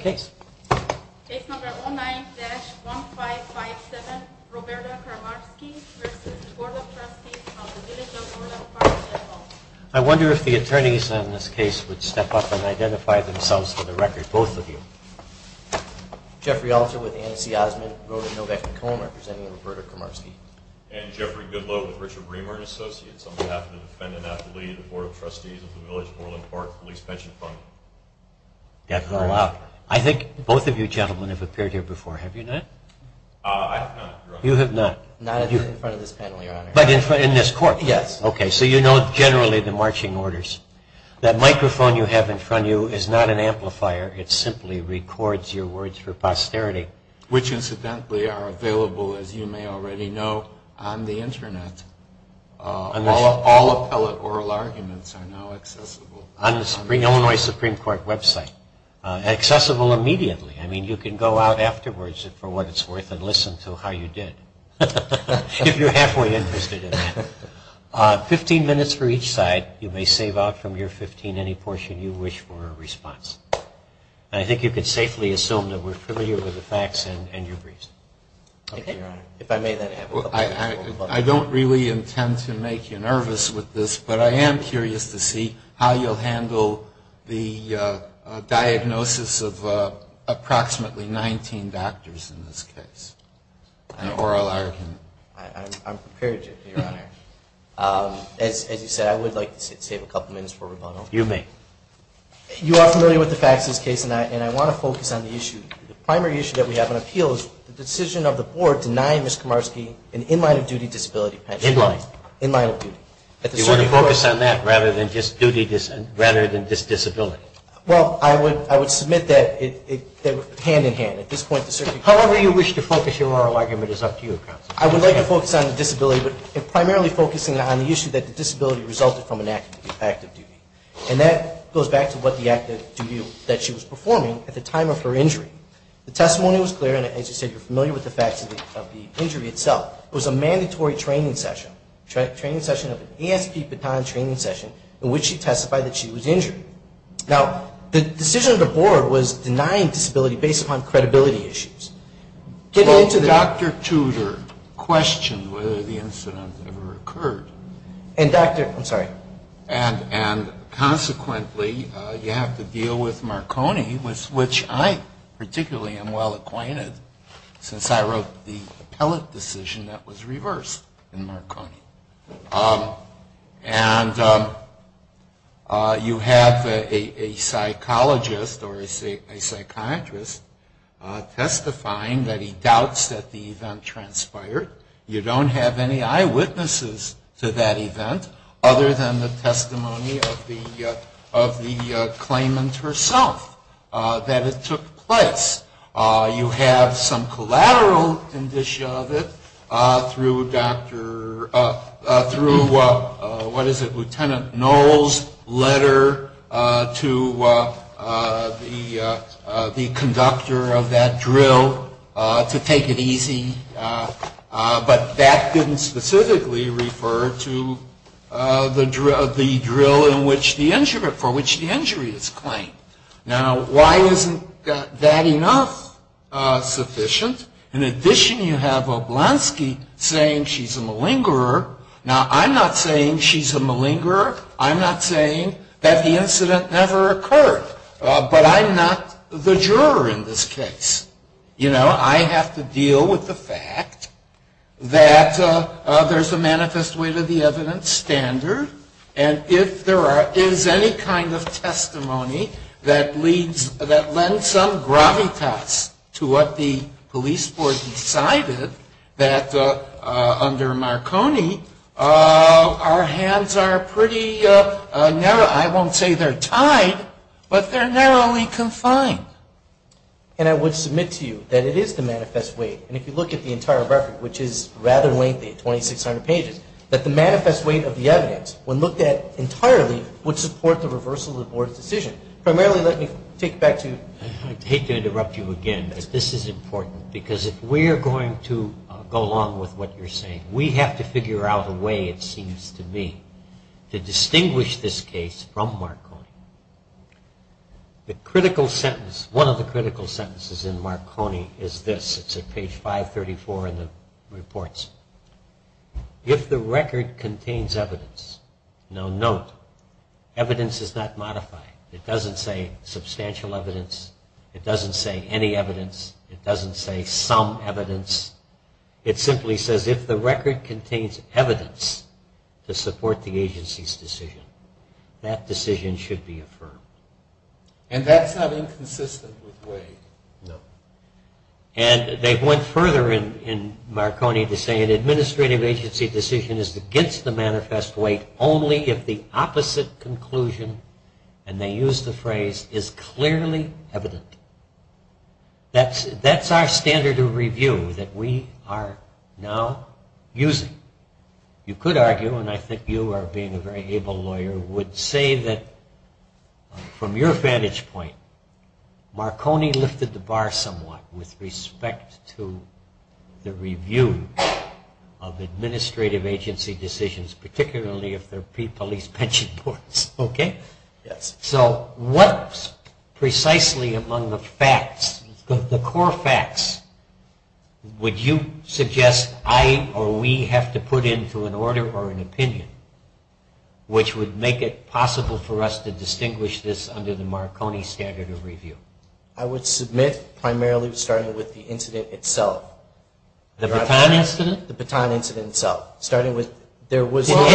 Case No. 09-1557, Roberta Kramarski v. The Board of Trustees of the Village of Orland Park Police Pension Fund. I wonder if the attorneys on this case would step up and identify themselves for the record, both of you. Jeffrey Alter with Anne C. Osmond, wrote of Novak Macomb, representing Roberta Kramarski. And Jeffrey Goodloe with Richard Bremer and Associates, on behalf of the defendant Natalie, the Board of Trustees of the Village of Orland Park Police Pension Fund. I think both of you gentlemen have appeared here before, have you not? I have not, Your Honor. You have not. Not in front of this panel, Your Honor. But in this court. Yes. Okay, so you know generally the marching orders. That microphone you have in front of you is not an amplifier, it simply records your words for posterity. Which incidentally are available, as you may already know, on the Internet. All appellate oral arguments are now accessible. On the Illinois Supreme Court website. Accessible immediately. I mean you can go out afterwards, for what it's worth, and listen to how you did. If you're halfway interested in that. Fifteen minutes for each side. You may save out from your fifteen any portion you wish for a response. And I think you can safely assume that we're familiar with the facts and your briefs. Okay, Your Honor. If I may then have a couple of questions. I don't really intend to make you nervous with this, but I am curious to see how you'll handle the diagnosis of approximately 19 doctors in this case. An oral argument. I'm prepared, Your Honor. As you said, I would like to save a couple minutes for rebuttal. You may. You are familiar with the facts of this case, and I want to focus on the issue. The primary issue that we have on appeal is the decision of the board denying Ms. Komarski an in-line of duty disability pension. In-line. In-line of duty. You want to focus on that rather than just disability? Well, I would submit that hand-in-hand. However you wish to focus your oral argument is up to you, counsel. I would like to focus on the disability, but primarily focusing on the issue that the disability resulted from an act of duty. And that goes back to what the act of duty that she was performing at the time of her injury. The testimony was clear, and as you said, you're familiar with the facts of the injury itself. It was a mandatory training session. A training session of an ASP baton training session in which she testified that she was injured. Now, the decision of the board was denying disability based upon credibility issues. Dr. Tudor questioned whether the incident ever occurred. And Dr. I'm sorry. And consequently, you have to deal with Marconi, with which I particularly am well acquainted, since I wrote the appellate decision that was reversed in Marconi. And you have a psychologist or a psychiatrist testifying that he doubts that the event transpired. You don't have any eyewitnesses to that event other than the testimony of the claimant herself that it took place. You have some collateral indicia of it through Dr. what is it, Lieutenant Knoll's letter to the conductor of that drill to take it easy. But that didn't specifically refer to the drill in which the injury, for which the injury is claimed. Now, why isn't that enough sufficient? In addition, you have Oblanski saying she's a malingerer. Now, I'm not saying she's a malingerer. I'm not saying that the incident never occurred. But I'm not the juror in this case. You know, I have to deal with the fact that there's a manifest way to the evidence standard, and if there is any kind of testimony that lends some gravitas to what the police board decided, that under Marconi, our hands are pretty narrow. I won't say they're tied, but they're narrowly confined. And I would submit to you that it is the manifest way, and if you look at the entire record, which is rather lengthy, 2,600 pages, that the manifest way of the evidence, when looked at entirely, would support the reversal of the board's decision. Primarily, let me take it back to you. I hate to interrupt you again, but this is important, because if we are going to go along with what you're saying, we have to figure out a way, it seems to me, to distinguish this case from other cases. The critical sentence, one of the critical sentences in Marconi is this. It's at page 534 in the reports. If the record contains evidence, now note, evidence is not modified. It doesn't say substantial evidence. It doesn't say any evidence. It doesn't say some evidence. It simply says if the record contains evidence to support the agency's decision, that decision should be affirmed. And that's not inconsistent with Wade. No. And they went further in Marconi to say an administrative agency decision is against the manifest way only if the opposite conclusion, and they used the phrase, is clearly evident. That's our standard of review that we are now using. You could argue, and I think you are being a very able lawyer, would say that from your vantage point, Marconi lifted the bar somewhat with respect to the review of administrative agency decisions, particularly if they're pre-police pension boards. So what precisely among the facts, the core facts, would you suggest I or we have to put into an order or an opinion which would make it possible for us to distinguish this under the Marconi standard of review? I would submit primarily starting with the incident itself. The baton incident? Well, the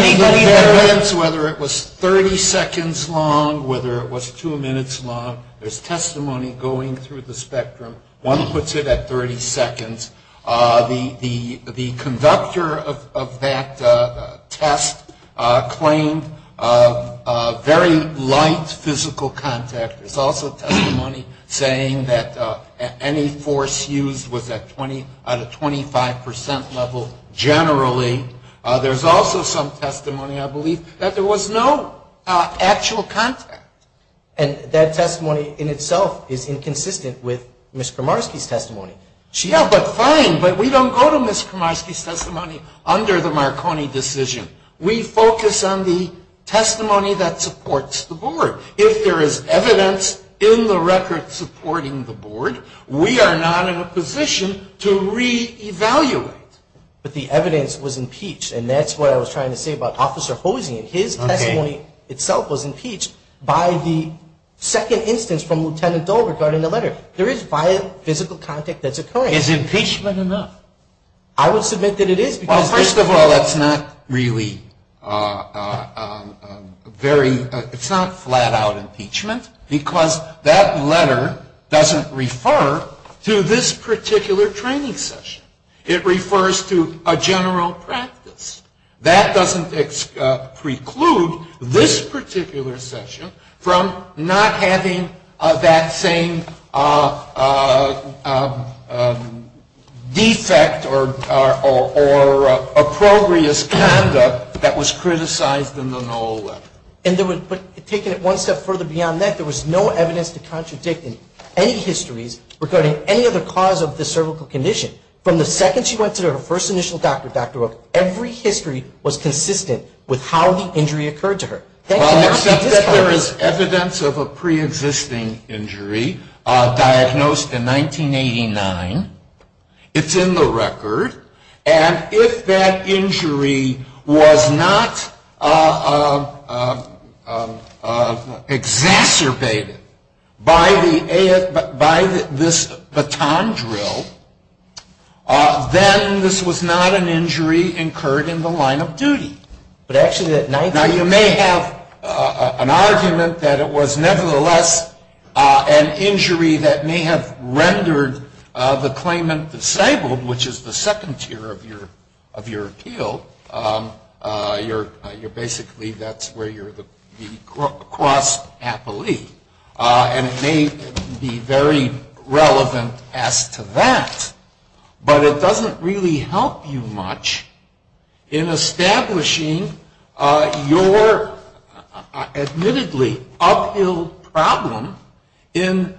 evidence, whether it was 30 seconds long, whether it was two minutes long, there's testimony going through the spectrum. One puts it at 30 seconds. The conductor of that test claimed very light physical contact. There's also testimony saying that any force used was at 20 out of 25 percent level general. Similarly, there's also some testimony, I believe, that there was no actual contact. And that testimony in itself is inconsistent with Ms. Kramarski's testimony. Yeah, but fine, but we don't go to Ms. Kramarski's testimony under the Marconi decision. We focus on the testimony that supports the board. If there is evidence in the record supporting the board, we are not in a position to reevaluate. But the evidence was impeached, and that's what I was trying to say about Officer Hosein. His testimony itself was impeached by the second instance from Lieutenant Dole regarding the letter. There is vile physical contact that's occurring. Is impeachment enough? I would submit that it is. Well, first of all, it's not really very, it's not flat-out impeachment, because that letter doesn't refer to this particular training session. It refers to a general practice. That doesn't preclude this particular session from not having that same defect or approprious conduct that was criticized in the Noel letter. But taking it one step further beyond that, there was no evidence to contradict any histories regarding any other cause of the cervical condition. From the second she went to her first initial doctor, Dr. Rook, every history was consistent with how the injury occurred to her. Except that there is evidence of a preexisting injury diagnosed in 1989. It's in the record. And if that injury was not exacerbated by this baton drill, then this was not an injury incurred in the line of duty. Now, you may have an argument that it was nevertheless an injury that may have rendered the claimant disabled, which is the second tier of your appeal. You're basically, that's where you're the cross happily. And it may be very relevant as to that. But it doesn't really help you much in establishing your admittedly uphill problem in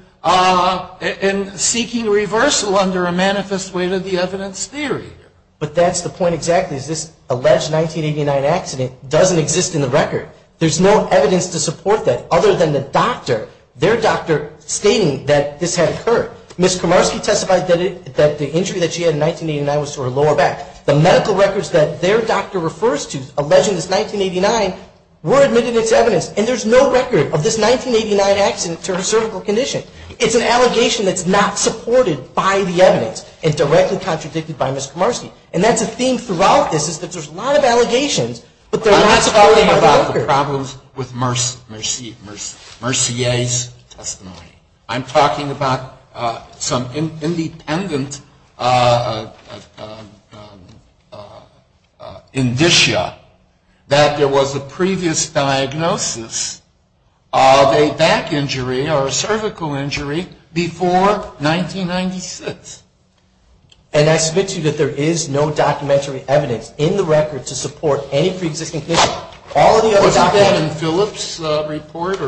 seeking reversal under a manifest way to the evidence theory. But that's the point exactly, is this alleged 1989 accident doesn't exist in the record. There's no evidence to support that other than the doctor, their doctor stating that this had occurred. Ms. Komarski testified that the injury that she had in 1989 was to her lower back. The medical records that their doctor refers to alleging this 1989 were admitted as evidence. And there's no record of this 1989 accident to her cervical condition. It's an allegation that's not supported by the evidence and directly contradicted by Ms. Komarski. And that's a theme throughout this, is that there's a lot of allegations, but they're not supported by the doctor. There are problems with Mercier's testimony. I'm talking about some independent indicia that there was a previous diagnosis of a back injury or a cervical injury before 1996. And I submit to you that there is no documentary evidence in the record to support any preexisting condition. Even in Phillips' report?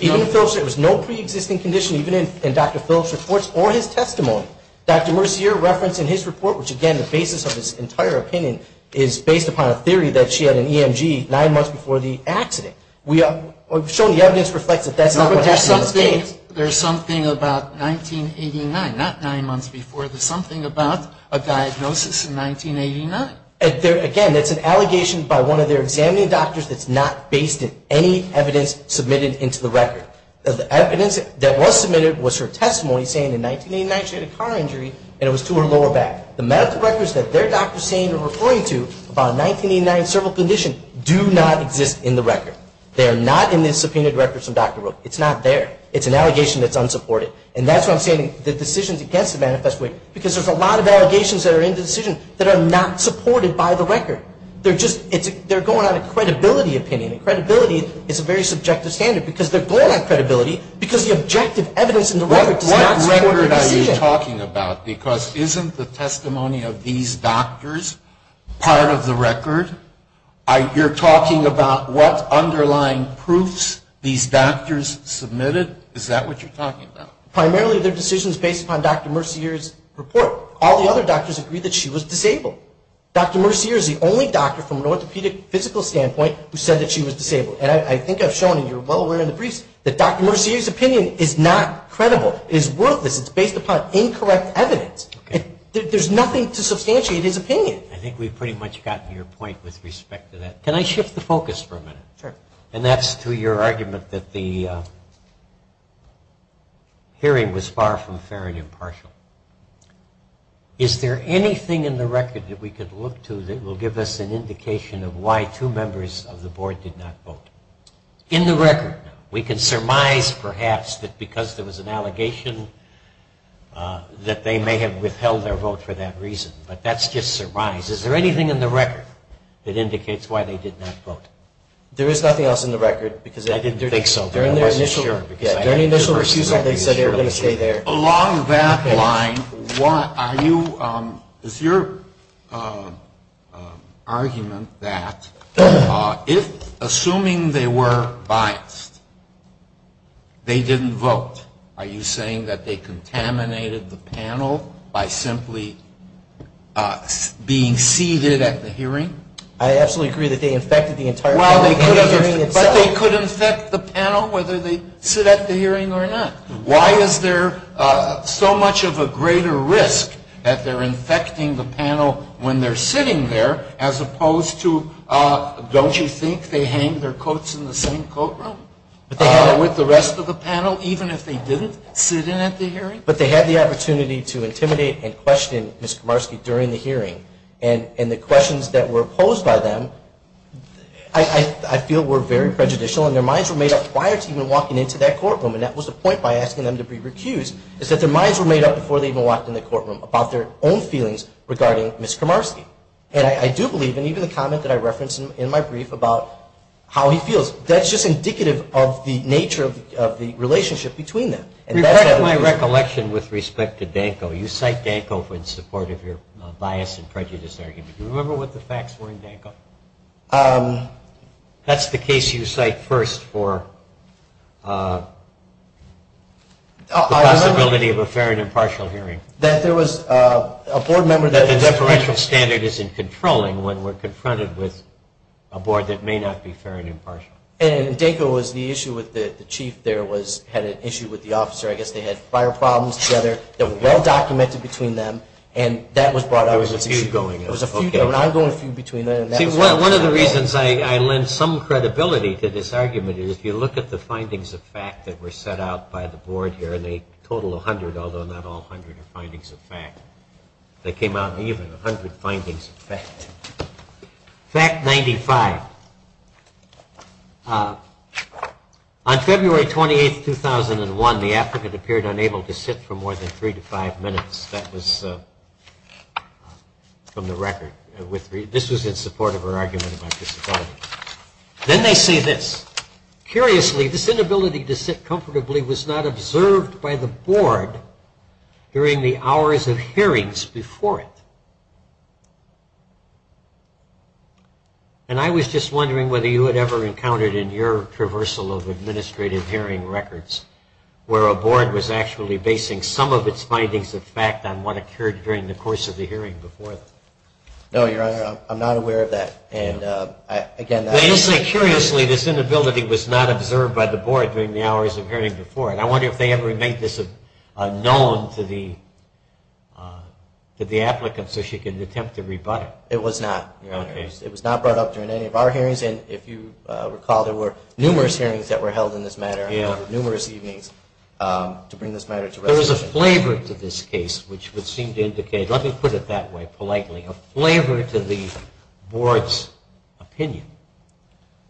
Even in Phillips, there was no preexisting condition, even in Dr. Phillips' reports or his testimony. Dr. Mercier referenced in his report, which again, the basis of this entire opinion, is based upon a theory that she had an EMG nine months before the accident. We've shown the evidence reflects that that's not what happened in those days. There's something about 1989, not nine months before. There's something about a diagnosis in 1989. Again, that's an allegation by one of their examining doctors that's not based in any evidence submitted into the record. The evidence that was submitted was her testimony saying in 1989 she had a car injury and it was to her lower back. The medical records that their doctor is saying or referring to about a 1989 cervical condition do not exist in the record. They are not in the subpoenaed records from Dr. Rook. It's not there. It's an allegation that's unsupported. And that's why I'm saying the decisions against the manifesto, because there's a lot of allegations that are in the decision that are not supported by the record. They're going on a credibility opinion. Credibility is a very subjective standard because they're going on credibility because the objective evidence in the record does not support the decision. What are you talking about? Because isn't the testimony of these doctors part of the record? You're talking about what underlying proofs these doctors submitted? Is that what you're talking about? Primarily their decision is based upon Dr. Mercier's report. All the other doctors agree that she was disabled. Dr. Mercier is the only doctor from an orthopedic physical standpoint who said that she was disabled. And I think I've shown, and you're well aware in the briefs, that Dr. Mercier's opinion is not credible. It's worthless. It's based upon incorrect evidence. There's nothing to substantiate his opinion. I think we've pretty much gotten to your point with respect to that. Can I shift the focus for a minute? Sure. And that's to your argument that the hearing was far from fair and impartial. Is there anything in the record that we could look to that will give us an indication of why two members of the board did not vote? In the record, we can surmise perhaps that because there was an allegation that they may have withheld their vote for that reason. But that's just a surmise. Is there anything in the record that indicates why they did not vote? There is nothing else in the record. Along that line, is your argument that assuming they were biased, they didn't vote? Are you saying that they contaminated the panel by simply being seated at the hearing? I absolutely agree that they infected the entire panel. But they could infect the panel whether they sit at the hearing or not. Why is there so much of a greater risk that they're infecting the panel when they're sitting there, as opposed to, don't you think they hang their coats in the same coat room with the rest of the panel, even if they didn't sit in at the hearing? But they had the opportunity to intimidate and question Ms. Komarski during the hearing. And the questions that were posed by them, I feel, were very prejudicial. And their minds were made up prior to even walking into that courtroom. And that was the point by asking them to be recused, is that their minds were made up before they even walked into the courtroom about their own feelings regarding Ms. Komarski. And I do believe, and even the comment that I referenced in my brief about how he feels, that's just indicative of the nature of the relationship between them. My recollection with respect to Danko, you cite Danko in support of your bias and prejudice argument. Do you remember what the facts were in Danko? That's the case you cite first for the possibility of a fair and impartial hearing. That the deferential standard isn't controlling when we're confronted with a board that may not be fair and impartial. And Danko was the issue with the chief there had an issue with the officer. I guess they had fire problems together that were well documented between them. And that was brought up as an issue. One of the reasons I lend some credibility to this argument is if you look at the findings of fact that were set out by the board here, and they total 100, although not all 100 are findings of fact. Fact 95. On February 28, 2001, the applicant appeared unable to sit for more than three to five minutes. That was from the record. This was in support of her argument about disability. Then they say this, curiously, this inability to sit comfortably was not observed by the board during the hours of hearings before it. And I was just wondering whether you had ever encountered in your traversal of administrative hearing records where a board was actually basing some of its findings of fact on what occurred during the course of the hearing before it. No, Your Honor, I'm not aware of that. They say, curiously, this inability was not observed by the board during the hours of hearing before it. I wonder if they ever made this known to the applicant so she could attempt to rebut it. It was not, Your Honor. It was not brought up during any of our hearings. And if you recall, there were numerous hearings that were held in this matter over numerous evenings to bring this matter to resolution. There was a flavor to this case which would seem to indicate, let me put it that way politely, a flavor to the board's opinion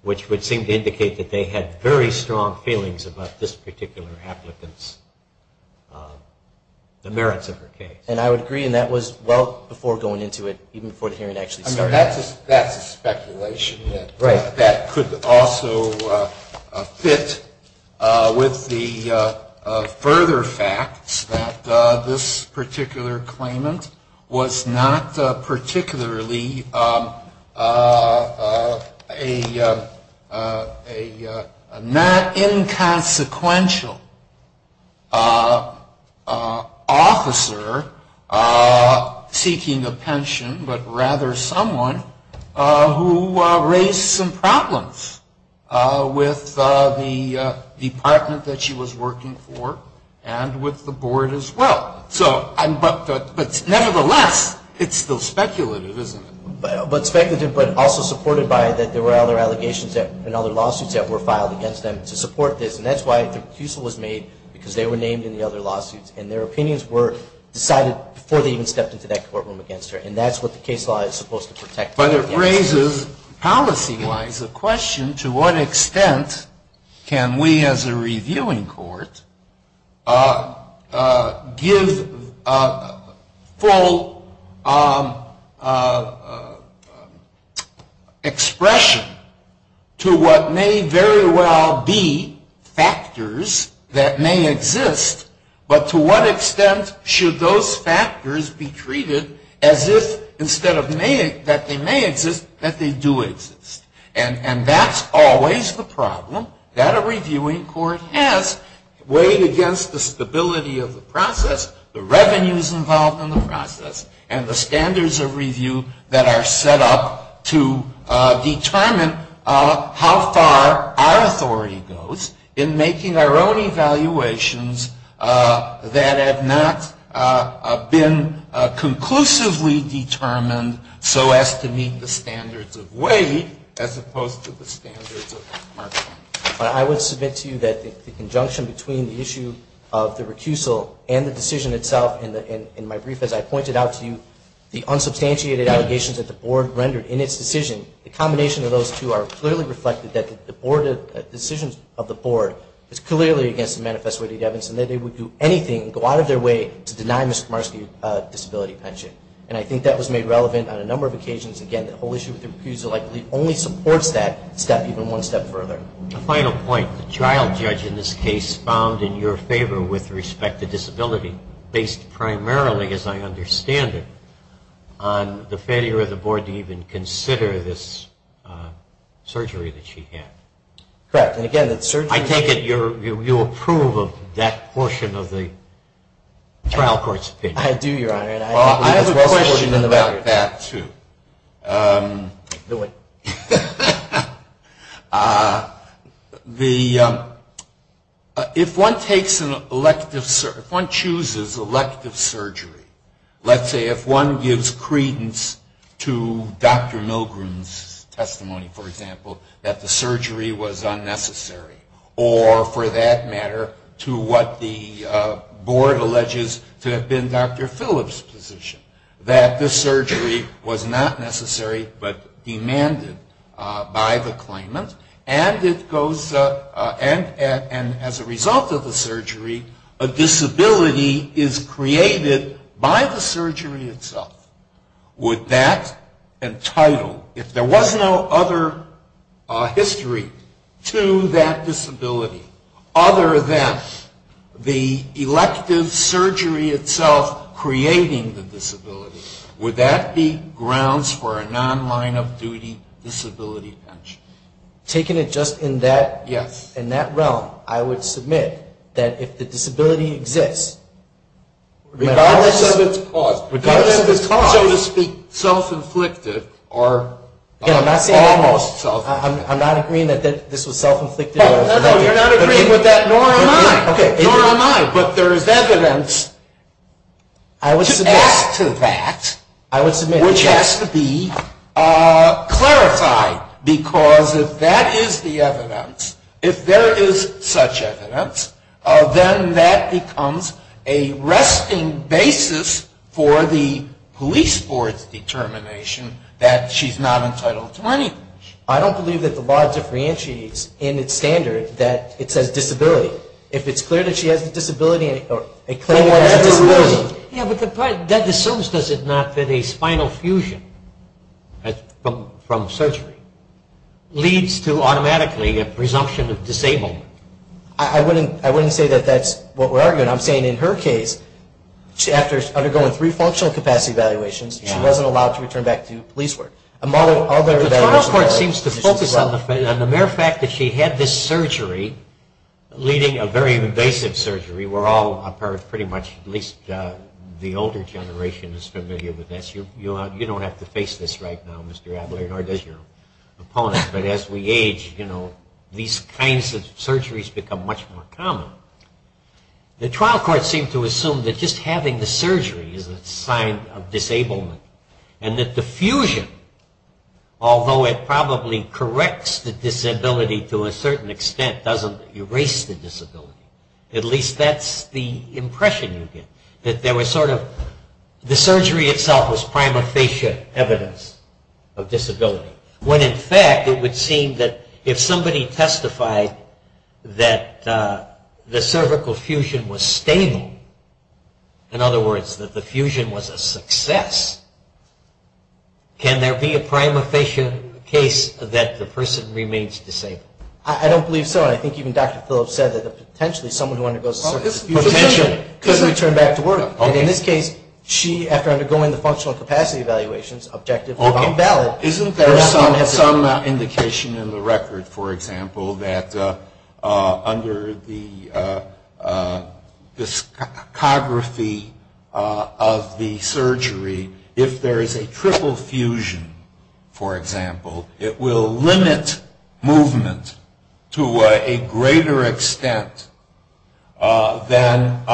which would seem to indicate that they had very strong feelings about this particular applicant's, the merits of her case. And I would agree, and that was well before going into it, even before the hearing actually started. I mean, that's a speculation that could also fit with the further facts that this particular claimant was not particularly a not inconsequential officer in this particular case. She was not seeking a pension, but rather someone who raised some problems with the department that she was working for and with the board as well. But nevertheless, it's still speculative, isn't it? But speculative, but also supported by that there were other allegations and other lawsuits that were filed against them to support this. And that's why the refusal was made, because they were named in the other lawsuits. And their opinions were decided before they even stepped into that courtroom against her. And that's what the case law is supposed to protect. But it raises, policy-wise, the question to what extent can we as a reviewing court give full expression to what may very well be factors that may exist but to what may not. And to what extent should those factors be treated as if, instead of that they may exist, that they do exist. And that's always the problem that a reviewing court has, weighed against the stability of the process, the revenues involved in the process, and the standards of review that are set up to determine how far our authority goes in making our own evaluations that are in line with the standards of review that have not been conclusively determined so as to meet the standards of weight as opposed to the standards of marketing. I would submit to you that the conjunction between the issue of the recusal and the decision itself in my brief, as I pointed out to you, the unsubstantiated allegations that the board rendered in its decision, the combination of those two are clearly reflected that the decisions of the board have gone a lot of their way to deny Ms. Komarski a disability pension. And I think that was made relevant on a number of occasions. Again, the whole issue with the recusal only supports that step even one step further. The final point, the trial judge in this case found in your favor with respect to disability, based primarily, as I understand it, on the failure of the board to even consider this surgery that she had. Correct. I take it you approve of that portion of the trial court's opinion. I do, Your Honor. I have a question about that, too. If one chooses elective surgery, let's say if one gives credence to Dr. Milgrom's testimony, for example, that the surgery was not necessary, or for that matter, to what the board alleges to have been Dr. Phillips's position, that the surgery was not necessary but demanded by the claimant, and as a result of the surgery, a disability is created by the surgery itself, would that entitle, if there was no other history to that disability, other than the elective surgery itself creating the disability, would that be grounds for a non-line-of-duty disability pension? Taken it just in that realm, I would submit that if the disability exists, regardless of its cause, regardless of its cause, so to speak, self- inflicted. No, no, you're not agreeing with that, nor am I. But there is evidence to add to that, which has to be clarified, because if that is the evidence, if there is such evidence, then that becomes a resting basis for the police board's determination that she's not entitled to money. I don't believe that the law differentiates in its standard that it says disability. If it's clear that she has a disability, or a claimant has a disability. Yeah, but that assumes, does it not, that a spinal fusion from surgery leads to automatically a presumption of disability? I wouldn't say that that's what we're arguing. I'm saying in her case, after undergoing three functional capacity evaluations, she wasn't allowed to return back to police work. The trial court seems to focus on the mere fact that she had this surgery, leading a very invasive surgery. We're all, pretty much, at least the older generation is familiar with this. You don't have to face this right now, Mr. Abler, nor does your opponent. But as we age, these kinds of surgeries become much more common. The trial court seemed to assume that just having the surgery is a sign of disablement. And that the fusion, although it probably corrects the disability to a certain extent, doesn't erase the disability. At least that's the impression you get. The surgery itself was prima facie evidence of disability. When in fact, it would seem that if somebody testified that the cervical fusion was stable, in other words, that the fusion was a success, can there be a prima facie case that the person remains disabled? I don't believe so, and I think even Dr. Phillips said that potentially someone who undergoes a cervical fusion could return back to work. In this case, she, after undergoing the functional capacity evaluations, objectively found valid. Isn't there some indication in the record, for example, that under the discography of the surgery, if there is a triple fusion, for example, it will limit movement to a greater extent than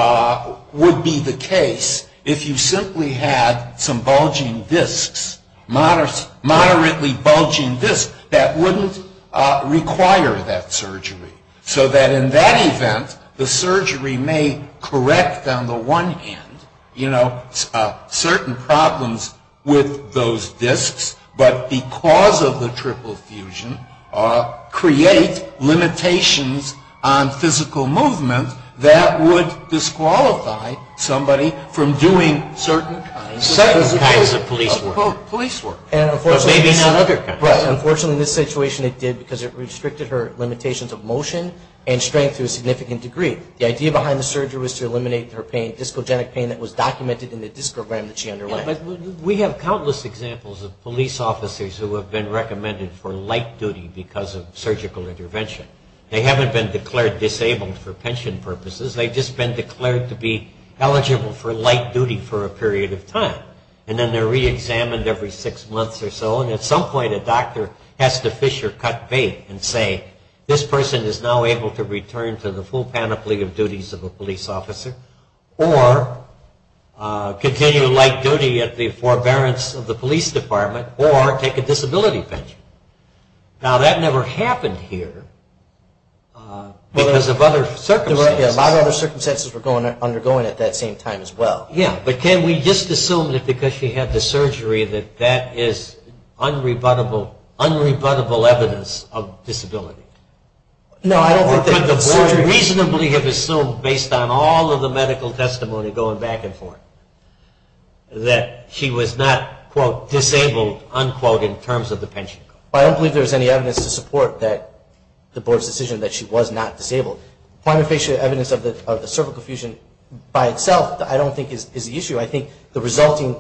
would be the case if you simply had some bulging discs, moderately bulging discs, that wouldn't require that surgery. So that in that event, the surgery may correct on the one hand, you know, certain problems with those discs, but because of the triple fusion, create limitations on physical movement that would disqualify somebody from doing certain kinds of police work. Unfortunately in this situation it did because it restricted her limitations of motion and strength to a significant degree. The idea behind the surgery was to eliminate her pain, discogenic pain that was documented in the discogram that she underwent. We have countless examples of police officers who have been recommended for light duty because of surgical intervention. They haven't been declared disabled for pension purposes, they've just been declared to be eligible for light duty for a period of time. And then they're reexamined every six months or so, and at some point a doctor has to fish or cut bait and say, this person is now able to return to the full panoply of duties of a police officer or continue light duty at the forbearance of the police department or take a disability pension. Now that never happened here because of other circumstances. Yeah, a lot of other circumstances were undergoing at that same time as well. Yeah, but can we just assume that because she had the surgery that that is unrebuttable evidence of disability? Or could the board reasonably have assumed based on all of the medical testimony going back and forth that she was not, quote, disabled, unquote, in terms of the pension? Well, I don't believe there's any evidence to support the board's decision that she was not disabled. Planofacial evidence of the cervical fusion by itself I don't think is the issue. I think the resulting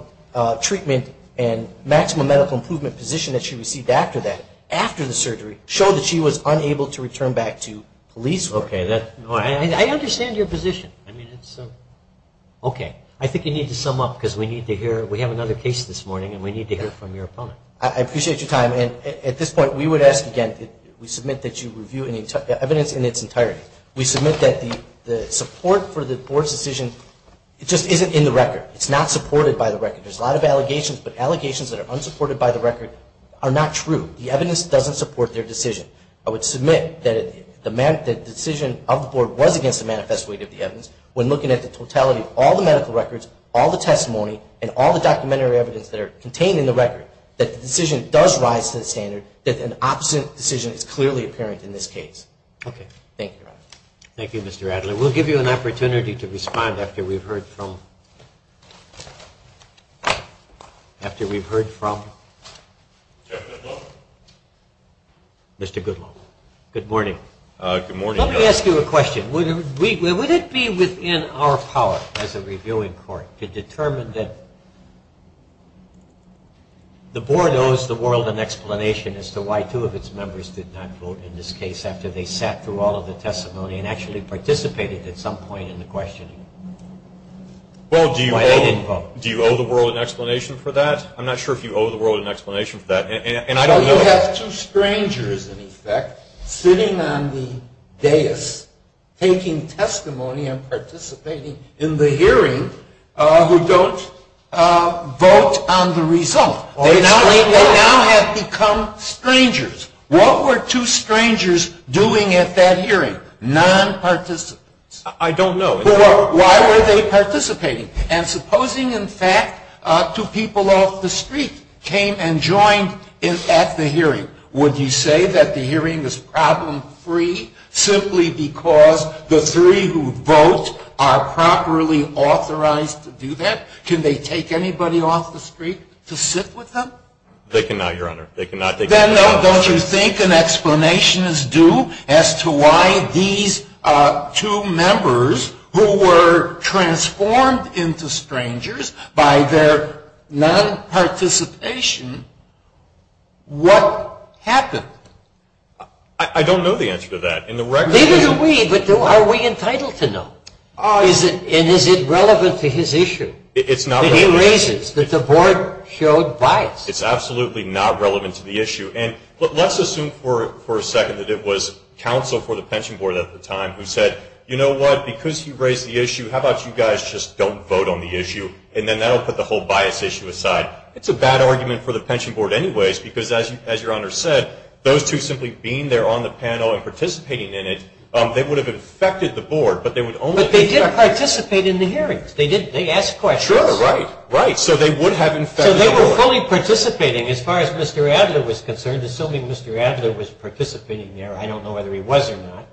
treatment and maximum medical improvement position that she received after that, after the surgery, showed that she was unable to return back to police work. Okay, I understand your position. Okay, I think you need to sum up because we need to hear, we have another case this morning and we need to hear from your opponent. I appreciate your time and at this point we would ask again, we submit that you review evidence in its entirety. We submit that the support for the board's decision just isn't in the record. It's not supported by the record. There's a lot of allegations, but allegations that are unsupported by the record are not true. The evidence doesn't support their decision. I would submit that the decision of the board was against the manifest weight of the evidence. When looking at the totality of all the medical records, all the testimony, and all the documentary evidence that are contained in the record, that the decision does rise to the standard that an opposite decision is clearly apparent in this case. Okay. Good morning. Let me ask you a question. Would it be within our power as a reviewing court to determine that the board owes the world an explanation as to why two of its members did not vote in this case after they sat through all of the testimony and actually participated at some point in the questioning? Well, do you owe the world an explanation for that? I'm not sure if you owe the world an explanation for that, and I don't know. Well, you have two strangers, in effect, sitting on the dais taking testimony and participating in the hearing who don't vote on the result. They now have become strangers. What were two strangers doing at that hearing? Non-participants. I don't know. Why were they participating? And supposing, in fact, two people off the street came and joined at the hearing, would you say that the hearing is problem free simply because the three who vote are properly authorized to do that? Can they take anybody off the street to sit with them? They cannot, Your Honor. Then don't you think an explanation is due as to why these two members who were transformed into strangers by their non-participation, what happened? I don't know the answer to that. Neither do we, but are we entitled to know? And is it relevant to his issue that he raises, that the board showed bias? It's absolutely not relevant to the issue. And let's assume for a second that it was counsel for the pension board at the time who said, you know what, because he raised the issue, how about you guys just don't vote on the issue, and then that will put the whole bias issue aside. It's a bad argument for the pension board anyways, because as Your Honor said, those two simply being there on the panel and participating in it, they would have infected the board, but they didn't participate in the hearings, they asked questions. So they were fully participating as far as Mr. Adler was concerned, assuming Mr. Adler was participating there, I don't know whether he was or not,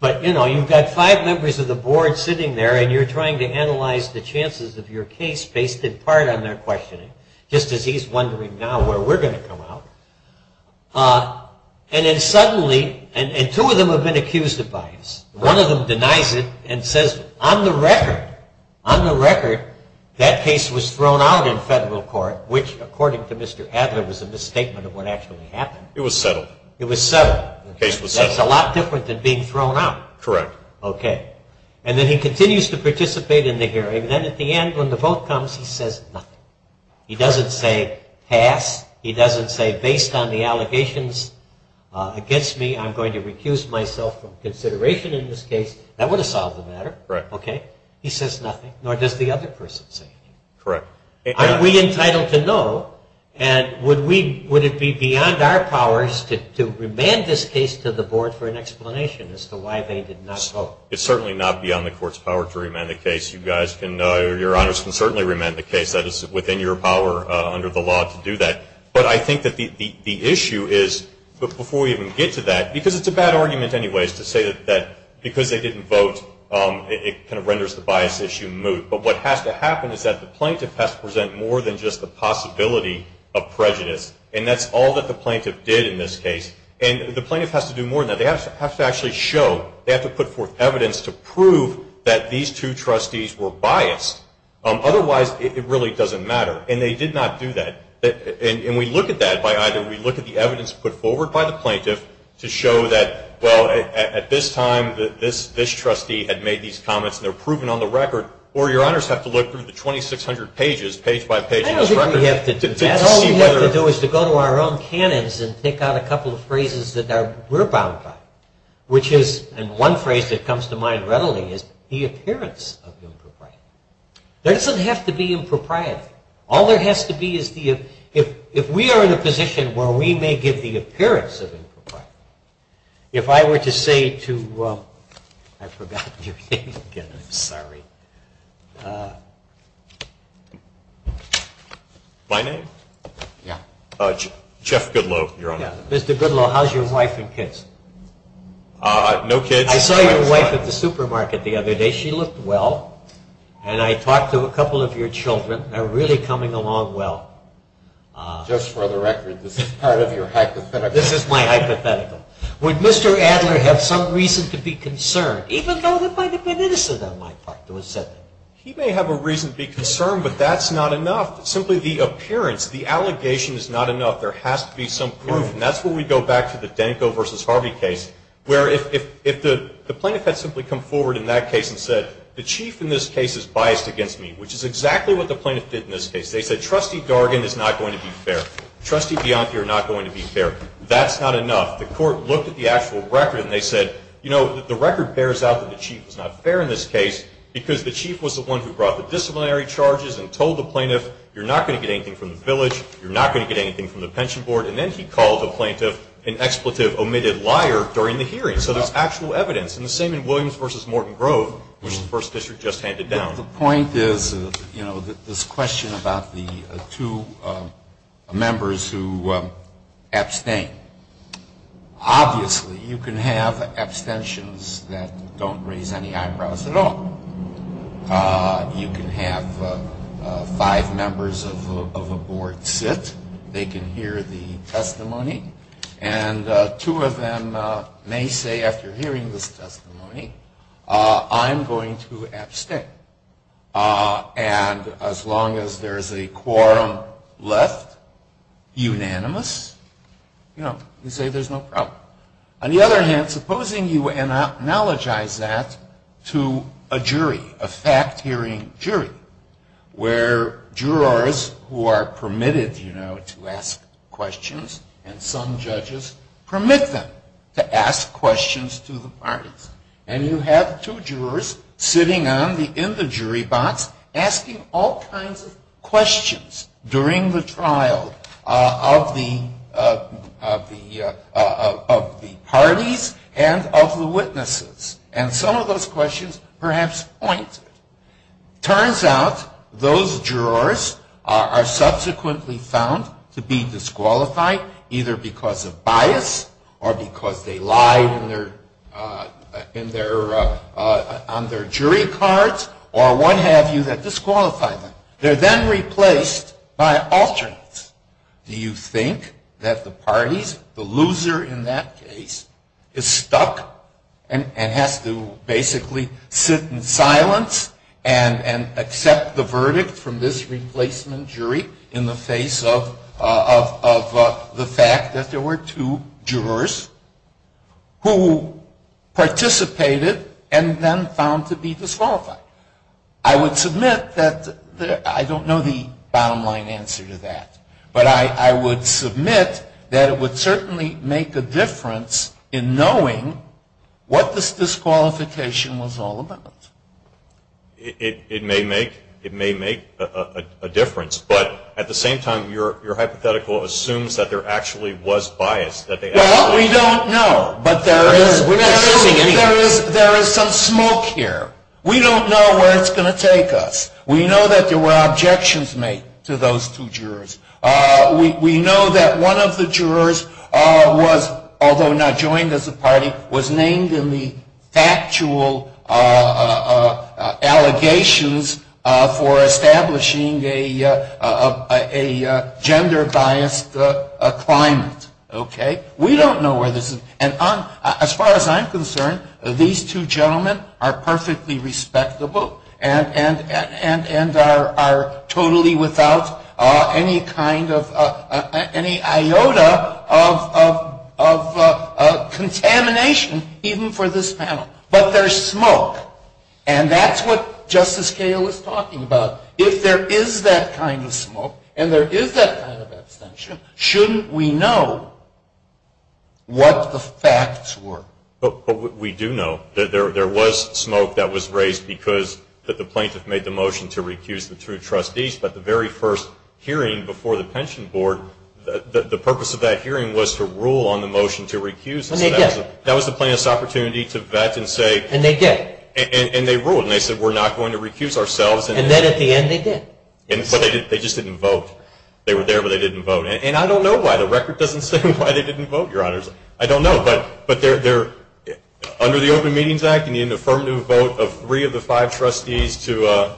but you've got five members of the board sitting there and you're trying to analyze the chances of your case based in part on their questioning, just as he's wondering now where we're going to come out. And then suddenly, and two of them have been accused of bias, one of them denies it and says, on the record, on the record, that case was thrown out in federal court, which according to Mr. Adler was a misstatement of what actually happened. It was settled. It was settled. The case was settled. That's a lot different than being thrown out. Correct. Okay. And then he continues to participate in the hearing, and then at the end when the vote comes, he says nothing. He doesn't say pass. He doesn't say, based on the allegations against me, I'm going to recuse myself from consideration in this case. That would have solved the matter. Right. Okay. He says nothing, nor does the other person say anything. Correct. Are we entitled to know, and would it be beyond our powers to remand this case to the board for an explanation as to why they did not vote? It's certainly not beyond the court's power to remand the case. You guys can, your honors can certainly remand the case. That is within your power under the law to do that. But I think that the issue is, before we even get to that, because it's a bad argument anyways to say that because they didn't vote, it kind of renders the bias issue moot. But what has to happen is that the plaintiff has to present more than just the possibility of prejudice, and that's all that the plaintiff did in this case. And the plaintiff has to do more than that. They have to actually show, they have to put forth evidence to prove that these two trustees were biased. Otherwise, it really doesn't matter. And they did not do that. And we look at that by either we look at the evidence put forward by the plaintiff to show that, well, at this time this trustee had made these comments and they're proven on the record, or your honors have to look through the 2,600 pages, page by page of this record. I don't think we have to do that. All we have to do is to go to our own canons and pick out a couple of phrases that we're bound by, and one phrase that comes to mind readily is the appearance of impropriety. There doesn't have to be impropriety. All there has to be is if we are in a position where we may give the appearance of impropriety. If I were to say to, I forgot your name again, I'm sorry. My name? Yeah. Jeff Goodloe, your honor. Mr. Goodloe, how's your wife and kids? No kids. I saw your wife at the supermarket the other day. She looked well. And I talked to a couple of your children. They're really coming along well. Just for the record, this is part of your hypothetical. This is my hypothetical. Would Mr. Adler have some reason to be concerned, even though he might have been innocent on my part to have said that? He may have a reason to be concerned, but that's not enough. Simply the appearance, the allegation is not enough. There has to be some proof, and that's where we go back to the Danko v. Harvey case, where if the plaintiff had simply come forward in that case and said, the chief in this case is biased against me, which is exactly what the plaintiff did in this case. They said, trustee Dargan is not going to be fair. Trustee Bianchi are not going to be fair. That's not enough. The court looked at the actual record, and they said, you know, the record bears out that the chief is not fair in this case because the chief was the one who brought the disciplinary You're not going to get anything from the pension board. And then he called the plaintiff an expletive omitted liar during the hearing. So there's actual evidence. And the same in Williams v. Morton Grove, which the first district just handed down. The point is, you know, this question about the two members who abstained, obviously you can have abstentions that don't raise any eyebrows at all. You can have five members of a board sit. They can hear the testimony. And two of them may say after hearing this testimony, I'm going to abstain. And as long as there is a quorum left, unanimous, you know, you say there's no problem. On the other hand, supposing you analogize that to a jury, a fact-hearing jury, where jurors who are permitted, you know, to ask questions, and some judges permit them to ask questions to the parties. And you have two jurors sitting in the jury box asking all kinds of questions during the trial of the parties and of the witnesses. And some of those questions perhaps pointed. Turns out those jurors are subsequently found to be disqualified either because of bias or because they lied on their jury cards or what have you that disqualified them. They're then replaced by alternates. Do you think that the parties, the loser in that case, is stuck and has to basically sit in silence and accept the verdict from this replacement jury in the face of the fact that there were two jurors? Who participated and then found to be disqualified? I would submit that I don't know the bottom line answer to that. But I would submit that it would certainly make a difference in knowing what this disqualification was all about. It may make a difference. But at the same time, your hypothetical assumes that there actually was bias. Well, we don't know, but there is some smoke here. We don't know where it's going to take us. We know that there were objections made to those two jurors. We know that one of the jurors was, although not joined as a party, was named in the factual allegations for establishing a gender-biased climate. We don't know where this is. And as far as I'm concerned, these two gentlemen are perfectly respectable and are totally without any kind of, any iota of contamination even for this panel. But there's smoke, and that's what Justice Cahill is talking about. If there is that kind of smoke and there is that kind of abstention, shouldn't we know what the facts were? But we do know that there was smoke that was raised because the plaintiff made the motion to recuse the two trustees, but the very first hearing before the pension board, the purpose of that hearing was to rule on the motion to recuse. That was the plaintiff's opportunity to vet and say, and they ruled. And they said, we're not going to recuse ourselves. And then at the end they did. But they just didn't vote. They were there, but they didn't vote. And I don't know why. The record doesn't say why they didn't vote, Your Honors. I don't know. But under the Open Meetings Act, you need an affirmative vote of three of the five trustees to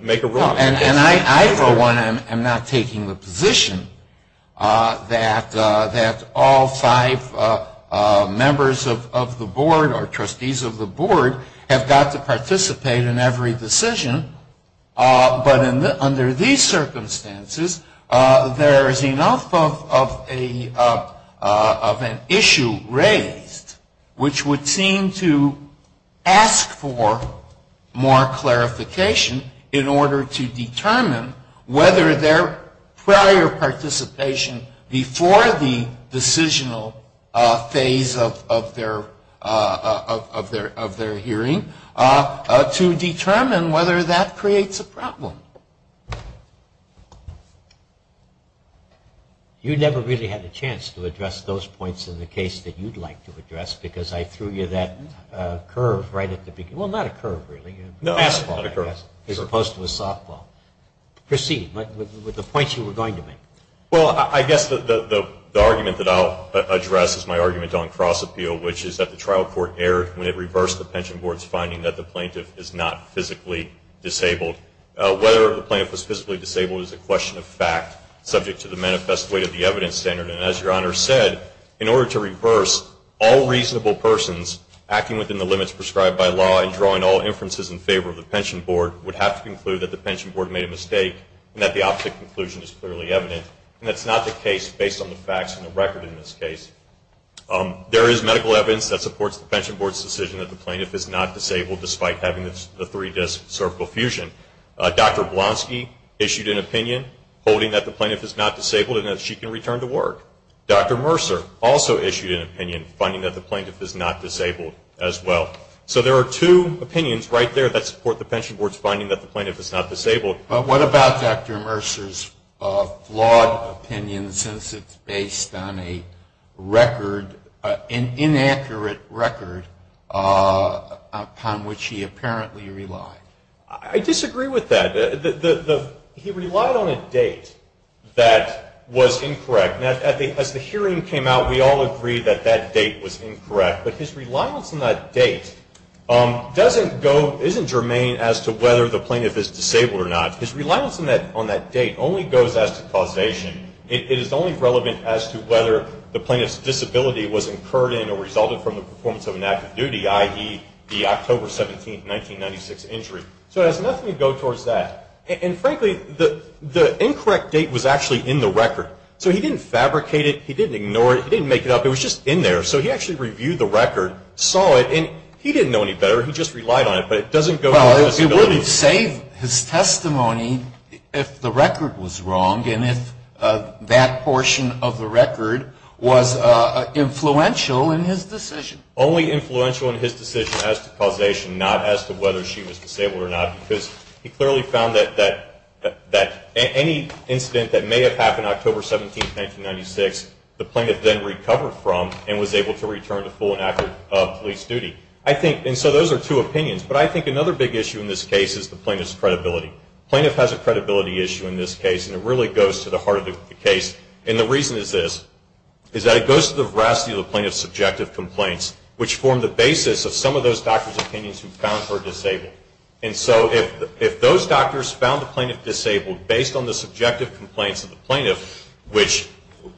make a ruling. And I, for one, am not taking the position that all five members of the board or trustees of the board have got to participate in every decision. But under these circumstances, there is enough of an open meeting to make a ruling. There is enough of an issue raised which would seem to ask for more clarification in order to determine whether their prior participation before the decisional phase of their hearing, to determine whether that creates a problem. You never really had a chance to address those points in the case that you'd like to address, because I threw you that curve right at the beginning. Well, not a curve, really. A fastball, as opposed to a softball. Proceed with the points you were going to make. Well, I guess the argument that I'll address is my argument on cross-appeal, which is that the trial court erred when it reversed the pension board's finding that the plaintiff is not physically disabled. Whether the plaintiff was physically disabled is a question of fact, subject to the manifest weight of the evidence standard. And as Your Honor said, in order to reverse all reasonable persons acting within the limits prescribed by law and drawing all inferences in favor of the pension board would have to conclude that the pension board made a mistake and that the opposite conclusion is clearly evident. And that's not the case based on the facts and the record in this case. There is medical evidence that supports the pension board's decision that the plaintiff is not disabled despite having the three-disc cervical fusion. Dr. Blonsky issued an opinion holding that the plaintiff is not disabled and that she can return to work. Dr. Mercer also issued an opinion finding that the plaintiff is not disabled as well. So there are two opinions right there that support the pension board's finding that the plaintiff is not disabled. But what about Dr. Mercer's flawed opinion since it's based on an inaccurate record upon which he apparently relied? I disagree with that. He relied on a date that was incorrect. Now, as the hearing came out, we all agreed that that date was incorrect. But his reliance on that date doesn't go, isn't germane as to whether the plaintiff is disabled or not. His reliance on that date only goes as to causation. It is only relevant as to whether the plaintiff's disability was incurred in or resulted from the performance of an active duty, i.e., the October 17, 1996, injury. So it has nothing to go towards that. And frankly, the incorrect date was actually in the record. So he didn't fabricate it. He didn't ignore it. He didn't make it up. It was just in there. So he actually reviewed the record, saw it, and he didn't know any better. He just relied on it. Well, it would have saved his testimony if the record was wrong and if that portion of the record was influential in his decision. Only influential in his decision as to causation, not as to whether she was disabled or not. Because he clearly found that any incident that may have happened October 17, 1996, the plaintiff then recovered from and was able to return to full and accurate police duty. And so those are two opinions. But I think another big issue in this case is the plaintiff's credibility. The plaintiff has a credibility issue in this case. And it really goes to the heart of the case. And the reason is this, is that it goes to the veracity of the plaintiff's subjective complaints, which form the basis of some of those doctors' opinions who found her disabled. And so if those doctors found the plaintiff disabled based on the subjective complaints of the plaintiff, which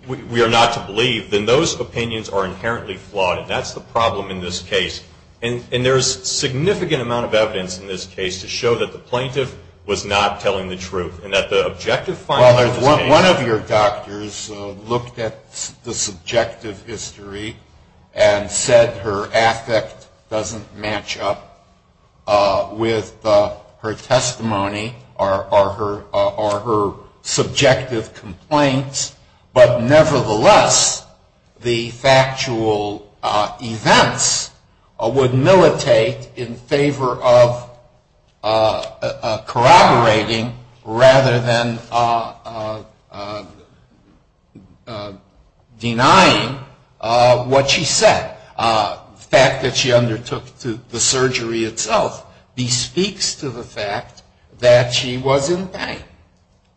we are not to believe, then those opinions are inherently flawed. And that's the problem in this case. And there's significant amount of evidence in this case to show that the plaintiff was not telling the truth. And that the objective findings... Well, one of your doctors looked at the subjective history and said her affect doesn't match up with her testimony or her subjective complaints. But nevertheless, the factual events were consistent. The fact that the plaintiff would militate in favor of corroborating rather than denying what she said. The fact that she undertook the surgery itself bespeaks to the fact that she was in pain.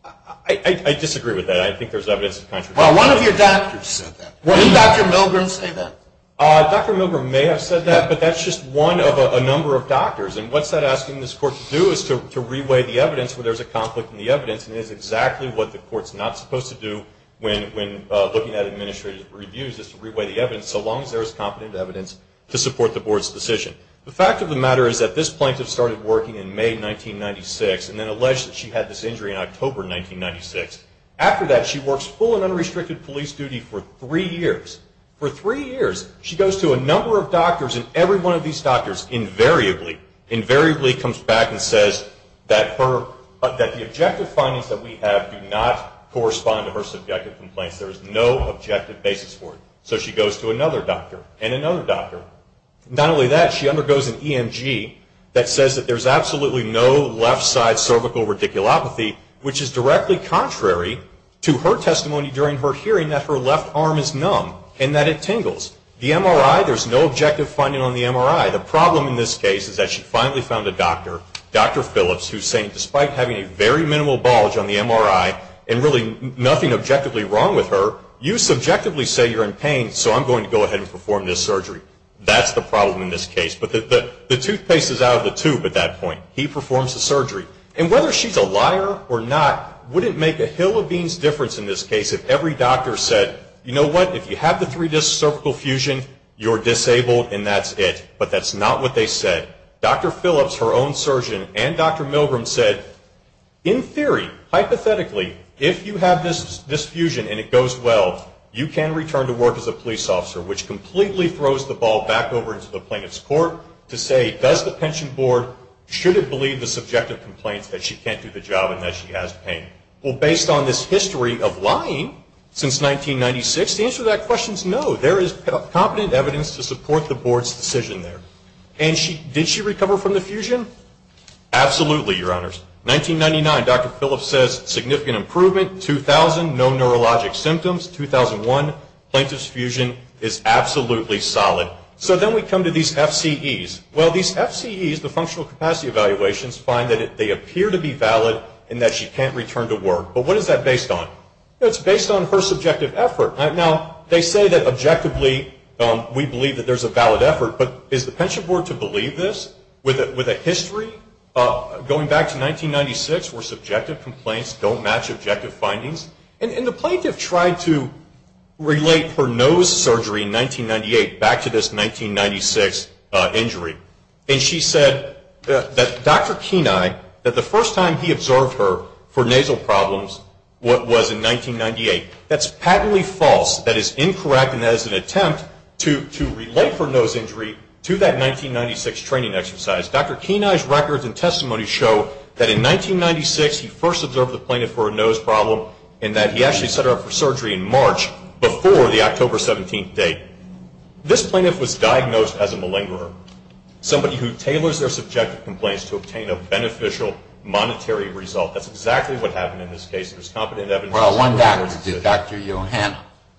I disagree with that. I think there's evidence to contradict that. Well, one of your doctors said that. Didn't Dr. Milgram say that? Dr. Milgram may have said that. Yeah, but that's just one of a number of doctors. And what's that asking this court to do is to re-weigh the evidence where there's a conflict in the evidence. And it is exactly what the court's not supposed to do when looking at administrative reviews, is to re-weigh the evidence. So long as there is competent evidence to support the board's decision. The fact of the matter is that this plaintiff started working in May 1996 and then alleged that she had this injury in October 1996. After that, she works full and unrestricted police duty for three years. And every one of these doctors invariably comes back and says that the objective findings that we have do not correspond to her subjective complaints. There is no objective basis for it. So she goes to another doctor and another doctor. Not only that, she undergoes an EMG that says that there's absolutely no left-side cervical radiculopathy, which is directly contrary to her testimony during her hearing that her left arm is numb and that it tingles. The MRI, there's no objective finding on the MRI. The problem in this case is that she finally found a doctor, Dr. Phillips, who's saying despite having a very minimal bulge on the MRI and really nothing objectively wrong with her, you subjectively say you're in pain, so I'm going to go ahead and perform this surgery. That's the problem in this case. But the toothpaste is out of the tube at that point. He performs the surgery. And whether she's a liar or not wouldn't make a hill of beans difference in this case if every doctor said, you know what, if you have the three-disc cervical fusion, you're disabled and that's it. But that's not what they said. Dr. Phillips, her own surgeon, and Dr. Milgram said in theory, hypothetically, if you have this fusion and it goes well, you can return to work as a police officer, which completely throws the ball back over into the plaintiff's court to say does the pension board, should it believe the subjective complaints that she can't do the job and that she has pain? Well, based on this history of lying since 1996, the answer to that question is no. There is competent evidence to support the board's decision there. And did she recover from the fusion? Absolutely, Your Honors. 1999, Dr. Phillips says, significant improvement. 2000, no neurologic symptoms. 2001, plaintiff's fusion is absolutely solid. So then we come to these FCEs. Well, these FCEs, the functional capacity evaluations, find that they appear to be valid and that she can't return to work. But what is that based on? It's based on her subjective effort. Now, they say that objectively we believe that there's a valid effort, but is the pension board to believe this with a history going back to 1996 where subjective complaints don't match objective findings? And the plaintiff tried to relate her nose surgery in 1998 back to this 1996 injury. And she said that Dr. Kenai, that the first time he observed her for nasal problems was in 1998. That's patently false. That is incorrect and that is an attempt to relate her nose injury to that 1996 training exercise. Dr. Kenai's records and testimony show that in 1996 he first observed the plaintiff for a nose problem and that he actually set her up for surgery in March before the October 17th date. This plaintiff was diagnosed as a malingerer. Somebody who tailors their subjective complaints to obtain a beneficial monetary result. That's exactly what happened in this case.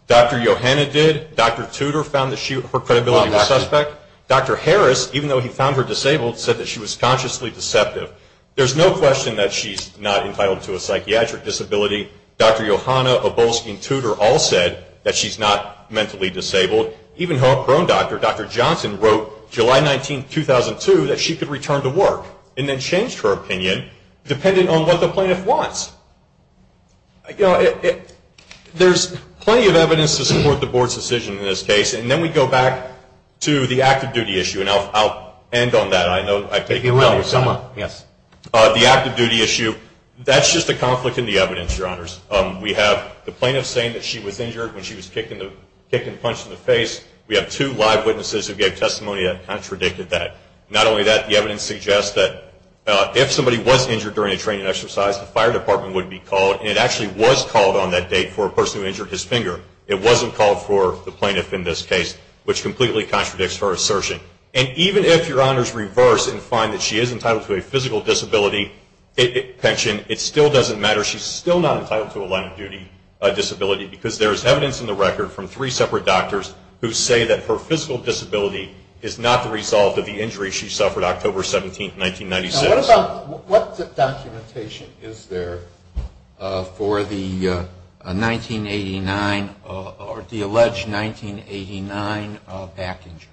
Dr. Johanna did. Dr. Tudor found that her credibility was suspect. Dr. Harris, even though he found her disabled, said that she was consciously deceptive. There's no question that she's not entitled to a psychiatric disability. Dr. Johanna, Obolsky, and Tudor all said that she's not mentally disabled. Even her own doctor, Dr. Johnson, wrote July 19, 2002 that she could return to work and then changed her opinion depending on what the plaintiff wants. There's plenty of evidence to support the board's decision in this case and then we go back to the active duty issue and I'll end on that. The active duty issue, that's just a conflict in the evidence, your honors. We have the plaintiff saying that she was injured when she was kicked and punched in the face. We have two live witnesses who gave testimony that contradicted that. Not only that, the evidence suggests that if somebody was injured during a training exercise, the fire department would be called and it actually was called on that date for a person who injured his finger. It wasn't called for the plaintiff in this case, which completely contradicts her assertion. And even if your honors reverse and find that she is entitled to a physical disability pension, it still doesn't matter. She's still not entitled to a line of duty disability because there's evidence in the record from three separate doctors who say that her physical disability is not the result of the injury she suffered October 17, 1996. What documentation is there for the alleged 1989 back injury?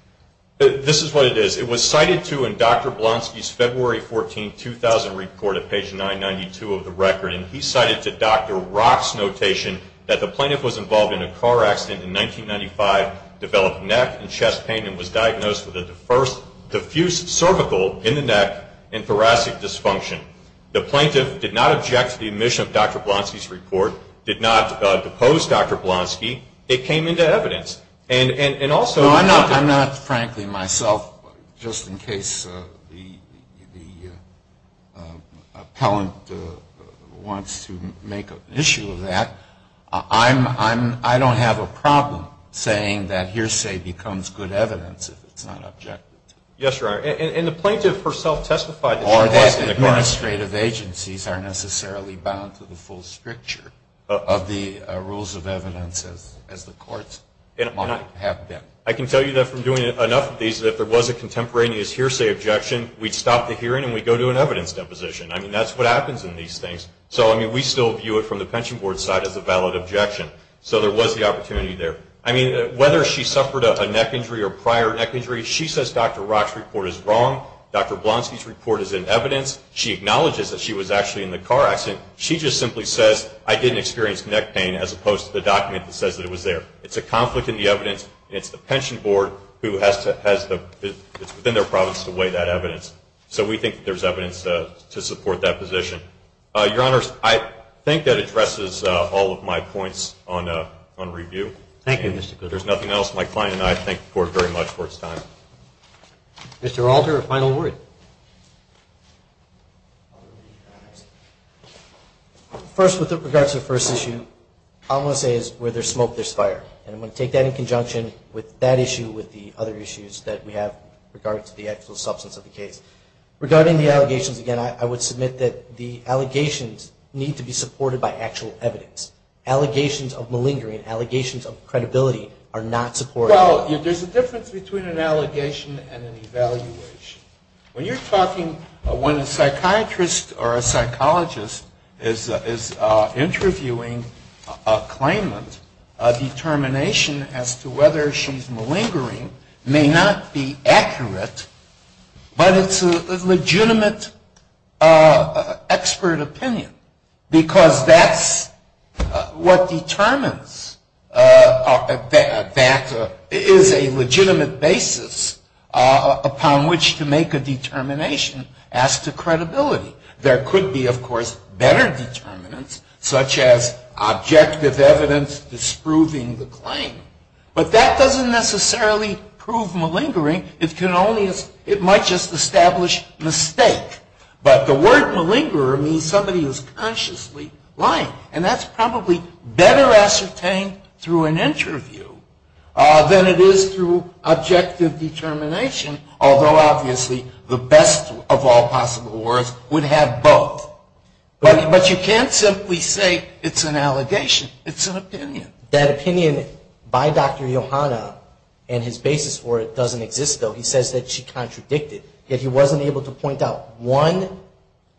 This is what it is. It was cited to in Dr. Blonsky's February 14, 2000 report at page 992 of the record and he cited to Dr. Rock's notation that the plaintiff was involved in a car accident in 1995, developed a neck and chest pain and was diagnosed with a diffuse cervical in the neck and thoracic dysfunction. The plaintiff did not object to the admission of Dr. Blonsky's report, did not depose Dr. Blonsky. It came into evidence. I'm not frankly myself, just in case the appellant wants to make an issue of that. I don't have a problem saying that hearsay becomes good evidence if it's not objected to. Administrative agencies aren't necessarily bound to the full stricture of the rules of evidence as the courts might have been. I can tell you that from doing enough of these that if there was a contemporaneous hearsay objection, we'd stop the hearing and we'd go to an evidence deposition. That's what happens in these things. We still view it from the pension board's side as a valid objection. So there was the opportunity there. Whether she suffered a neck injury or prior neck injury, she says Dr. Rock's report is wrong, Dr. Blonsky's report is in evidence. She acknowledges that she was actually in the car accident. She just simply says, I didn't experience neck pain, as opposed to the document that says that it was there. It's a conflict in the evidence. It's the pension board who has to, it's within their province to weigh that evidence. So we think that there's evidence to support that position. Your Honors, I think that addresses all of my points on review. Thank you, Mr. Cooper. If there's nothing else, my client and I thank the Court very much for its time. Mr. Alter, a final word. First, with regards to the first issue, all I'm going to say is where there's smoke, there's fire. And I'm going to take that in conjunction with that issue, with the other issues that we have regarding the actual substance of the case. Regarding the allegations, again, I would submit that the allegations need to be supported by actual evidence. Allegations of malingering, allegations of credibility are not supported. Well, if there's a difference between an allegation and an evaluation, when you're talking when a psychiatrist or a psychologist is interviewing a claimant, a determination as to whether she's malingering may not be accurate, but it's a legitimate expert opinion, because that's what determines that is a legitimate basis upon which to make a determination as to credibility. There could be, of course, better determinants, such as objective evidence disproving the claim. But that doesn't necessarily prove malingering. It can only, it might just establish mistake. But the word malingerer means somebody who's consciously lying. And that's probably better ascertained through an interview than it is through objective determination, although obviously the best of all possible words would have both. But you can't simply say it's an allegation. It's an opinion. That opinion by Dr. Yohanna and his basis for it doesn't exist, though. He says that she contradicted, yet he wasn't able to point out one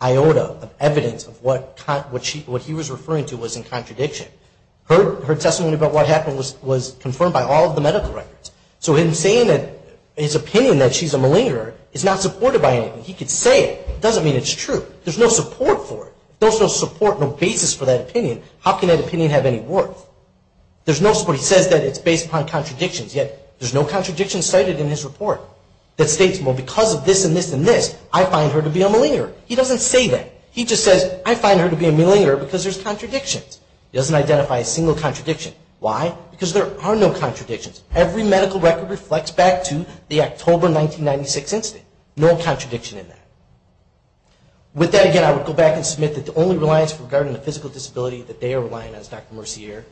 iota of evidence of what he was referring to was in contradiction. Her testimony about what happened was confirmed by all of the medical records. So him saying that his opinion that she's a malingerer is not supported by anything. He could say it. It doesn't mean it's true. There's no support for it. There's no support, no basis for that opinion. How can that opinion have any worth? There's no support. He says that it's based upon contradictions, yet there's no contradiction cited in his report that states, well, because of this and this and this, I find her to be a malingerer. He doesn't say that. He just says, I find her to be a malingerer because there's contradictions. He doesn't identify a single contradiction. Why? Because there are no contradictions. Every medical record reflects back to the October 1996 incident. No contradiction in that. With that, again, I would go back and submit that the only reliance regarding the physical disability that they are relying on is Dr. Mercier.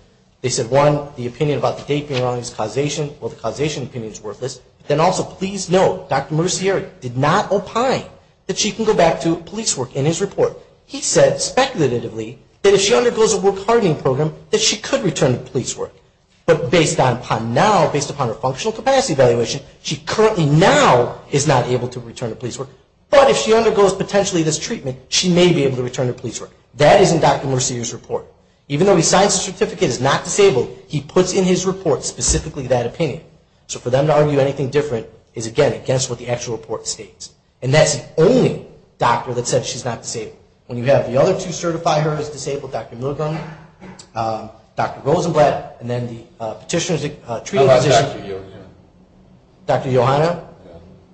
They said, one, the opinion about the date being wrong is causation. Well, the causation opinion is worthless. Then also, please note, Dr. Mercier did not opine that she can go back to police work in his report. He said, speculatively, that if she undergoes a work hardening program, that she could return to police work. But based upon now, based upon her functional capacity evaluation, she currently now is not able to return to police work. But if she undergoes potentially this treatment, she may be able to return to police work. That is in Dr. Mercier's report. Even though he signs the certificate as not disabled, he puts in his report specifically that opinion. So for them to argue anything different is, again, against what the actual report states. And that's the only doctor that said she's not disabled. When you have the other two certify her as disabled, Dr. Milgram, Dr. Rosenblatt, and then the petitioner's treatment physician. How about Dr. Yohanna?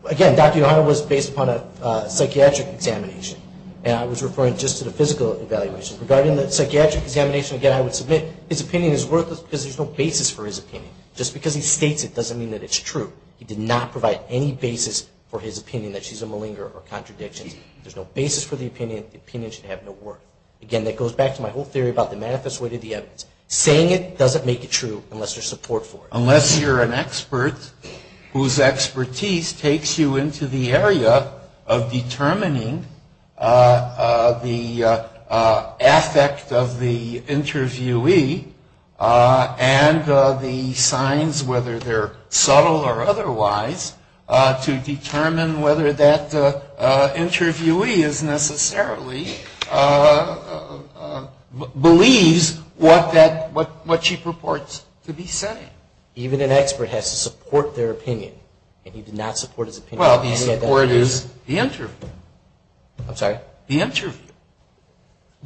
Again, Dr. Yohanna was based upon a psychiatric examination. And I was referring just to the physical evaluation. Regarding the psychiatric examination, again, I would submit his opinion is worthless because there's no basis for his opinion. Just because he states it doesn't mean that it's true. He did not provide any basis for his predictions. There's no basis for the opinion. The opinion should have no worth. Again, that goes back to my whole theory about the manifest way to the evidence. Saying it doesn't make it true unless there's support for it. Unless you're an expert whose expertise takes you into the area of determining the affect of the interviewee and the signs, whether they're subtle or not, the interviewee is necessarily believes what she purports to be saying. Even an expert has to support their opinion. And he did not support his opinion. Well, he supported the interview. I'm sorry? The interview.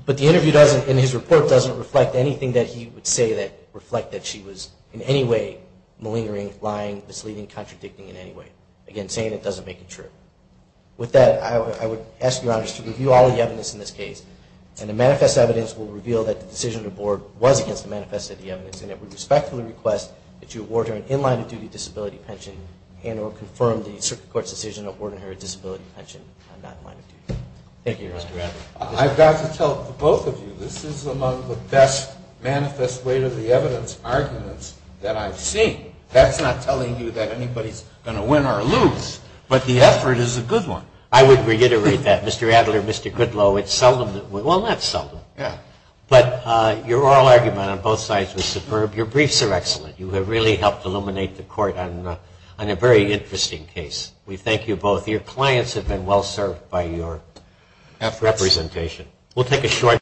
But the interview doesn't, in his report, reflect anything that he would say that reflected that she was in any way malingering, lying, misleading, contradicting in any way. Again, saying it doesn't make it true. With that, I would ask Your Honor to review all the evidence in this case. And the manifest evidence will reveal that the decision of the Board was against the manifest evidence. And it would respectfully request that you award her an in-line-of-duty disability pension and or confirm the Circuit Court's decision to award her a disability pension and not in-line-of-duty. Thank you, Your Honor. I've got to tell both of you, this is among the best manifest way to the evidence arguments that I've seen. That's not telling you that anybody's going to win or lose, but the effort is a good one. I would reiterate that. Mr. Adler, Mr. Goodlow, it's seldom, well, not seldom, but your oral argument on both sides was superb. Your briefs are excellent. You have really helped illuminate the Court on a very interesting case. We thank you both. Your clients have been well served by your representation. We'll take a short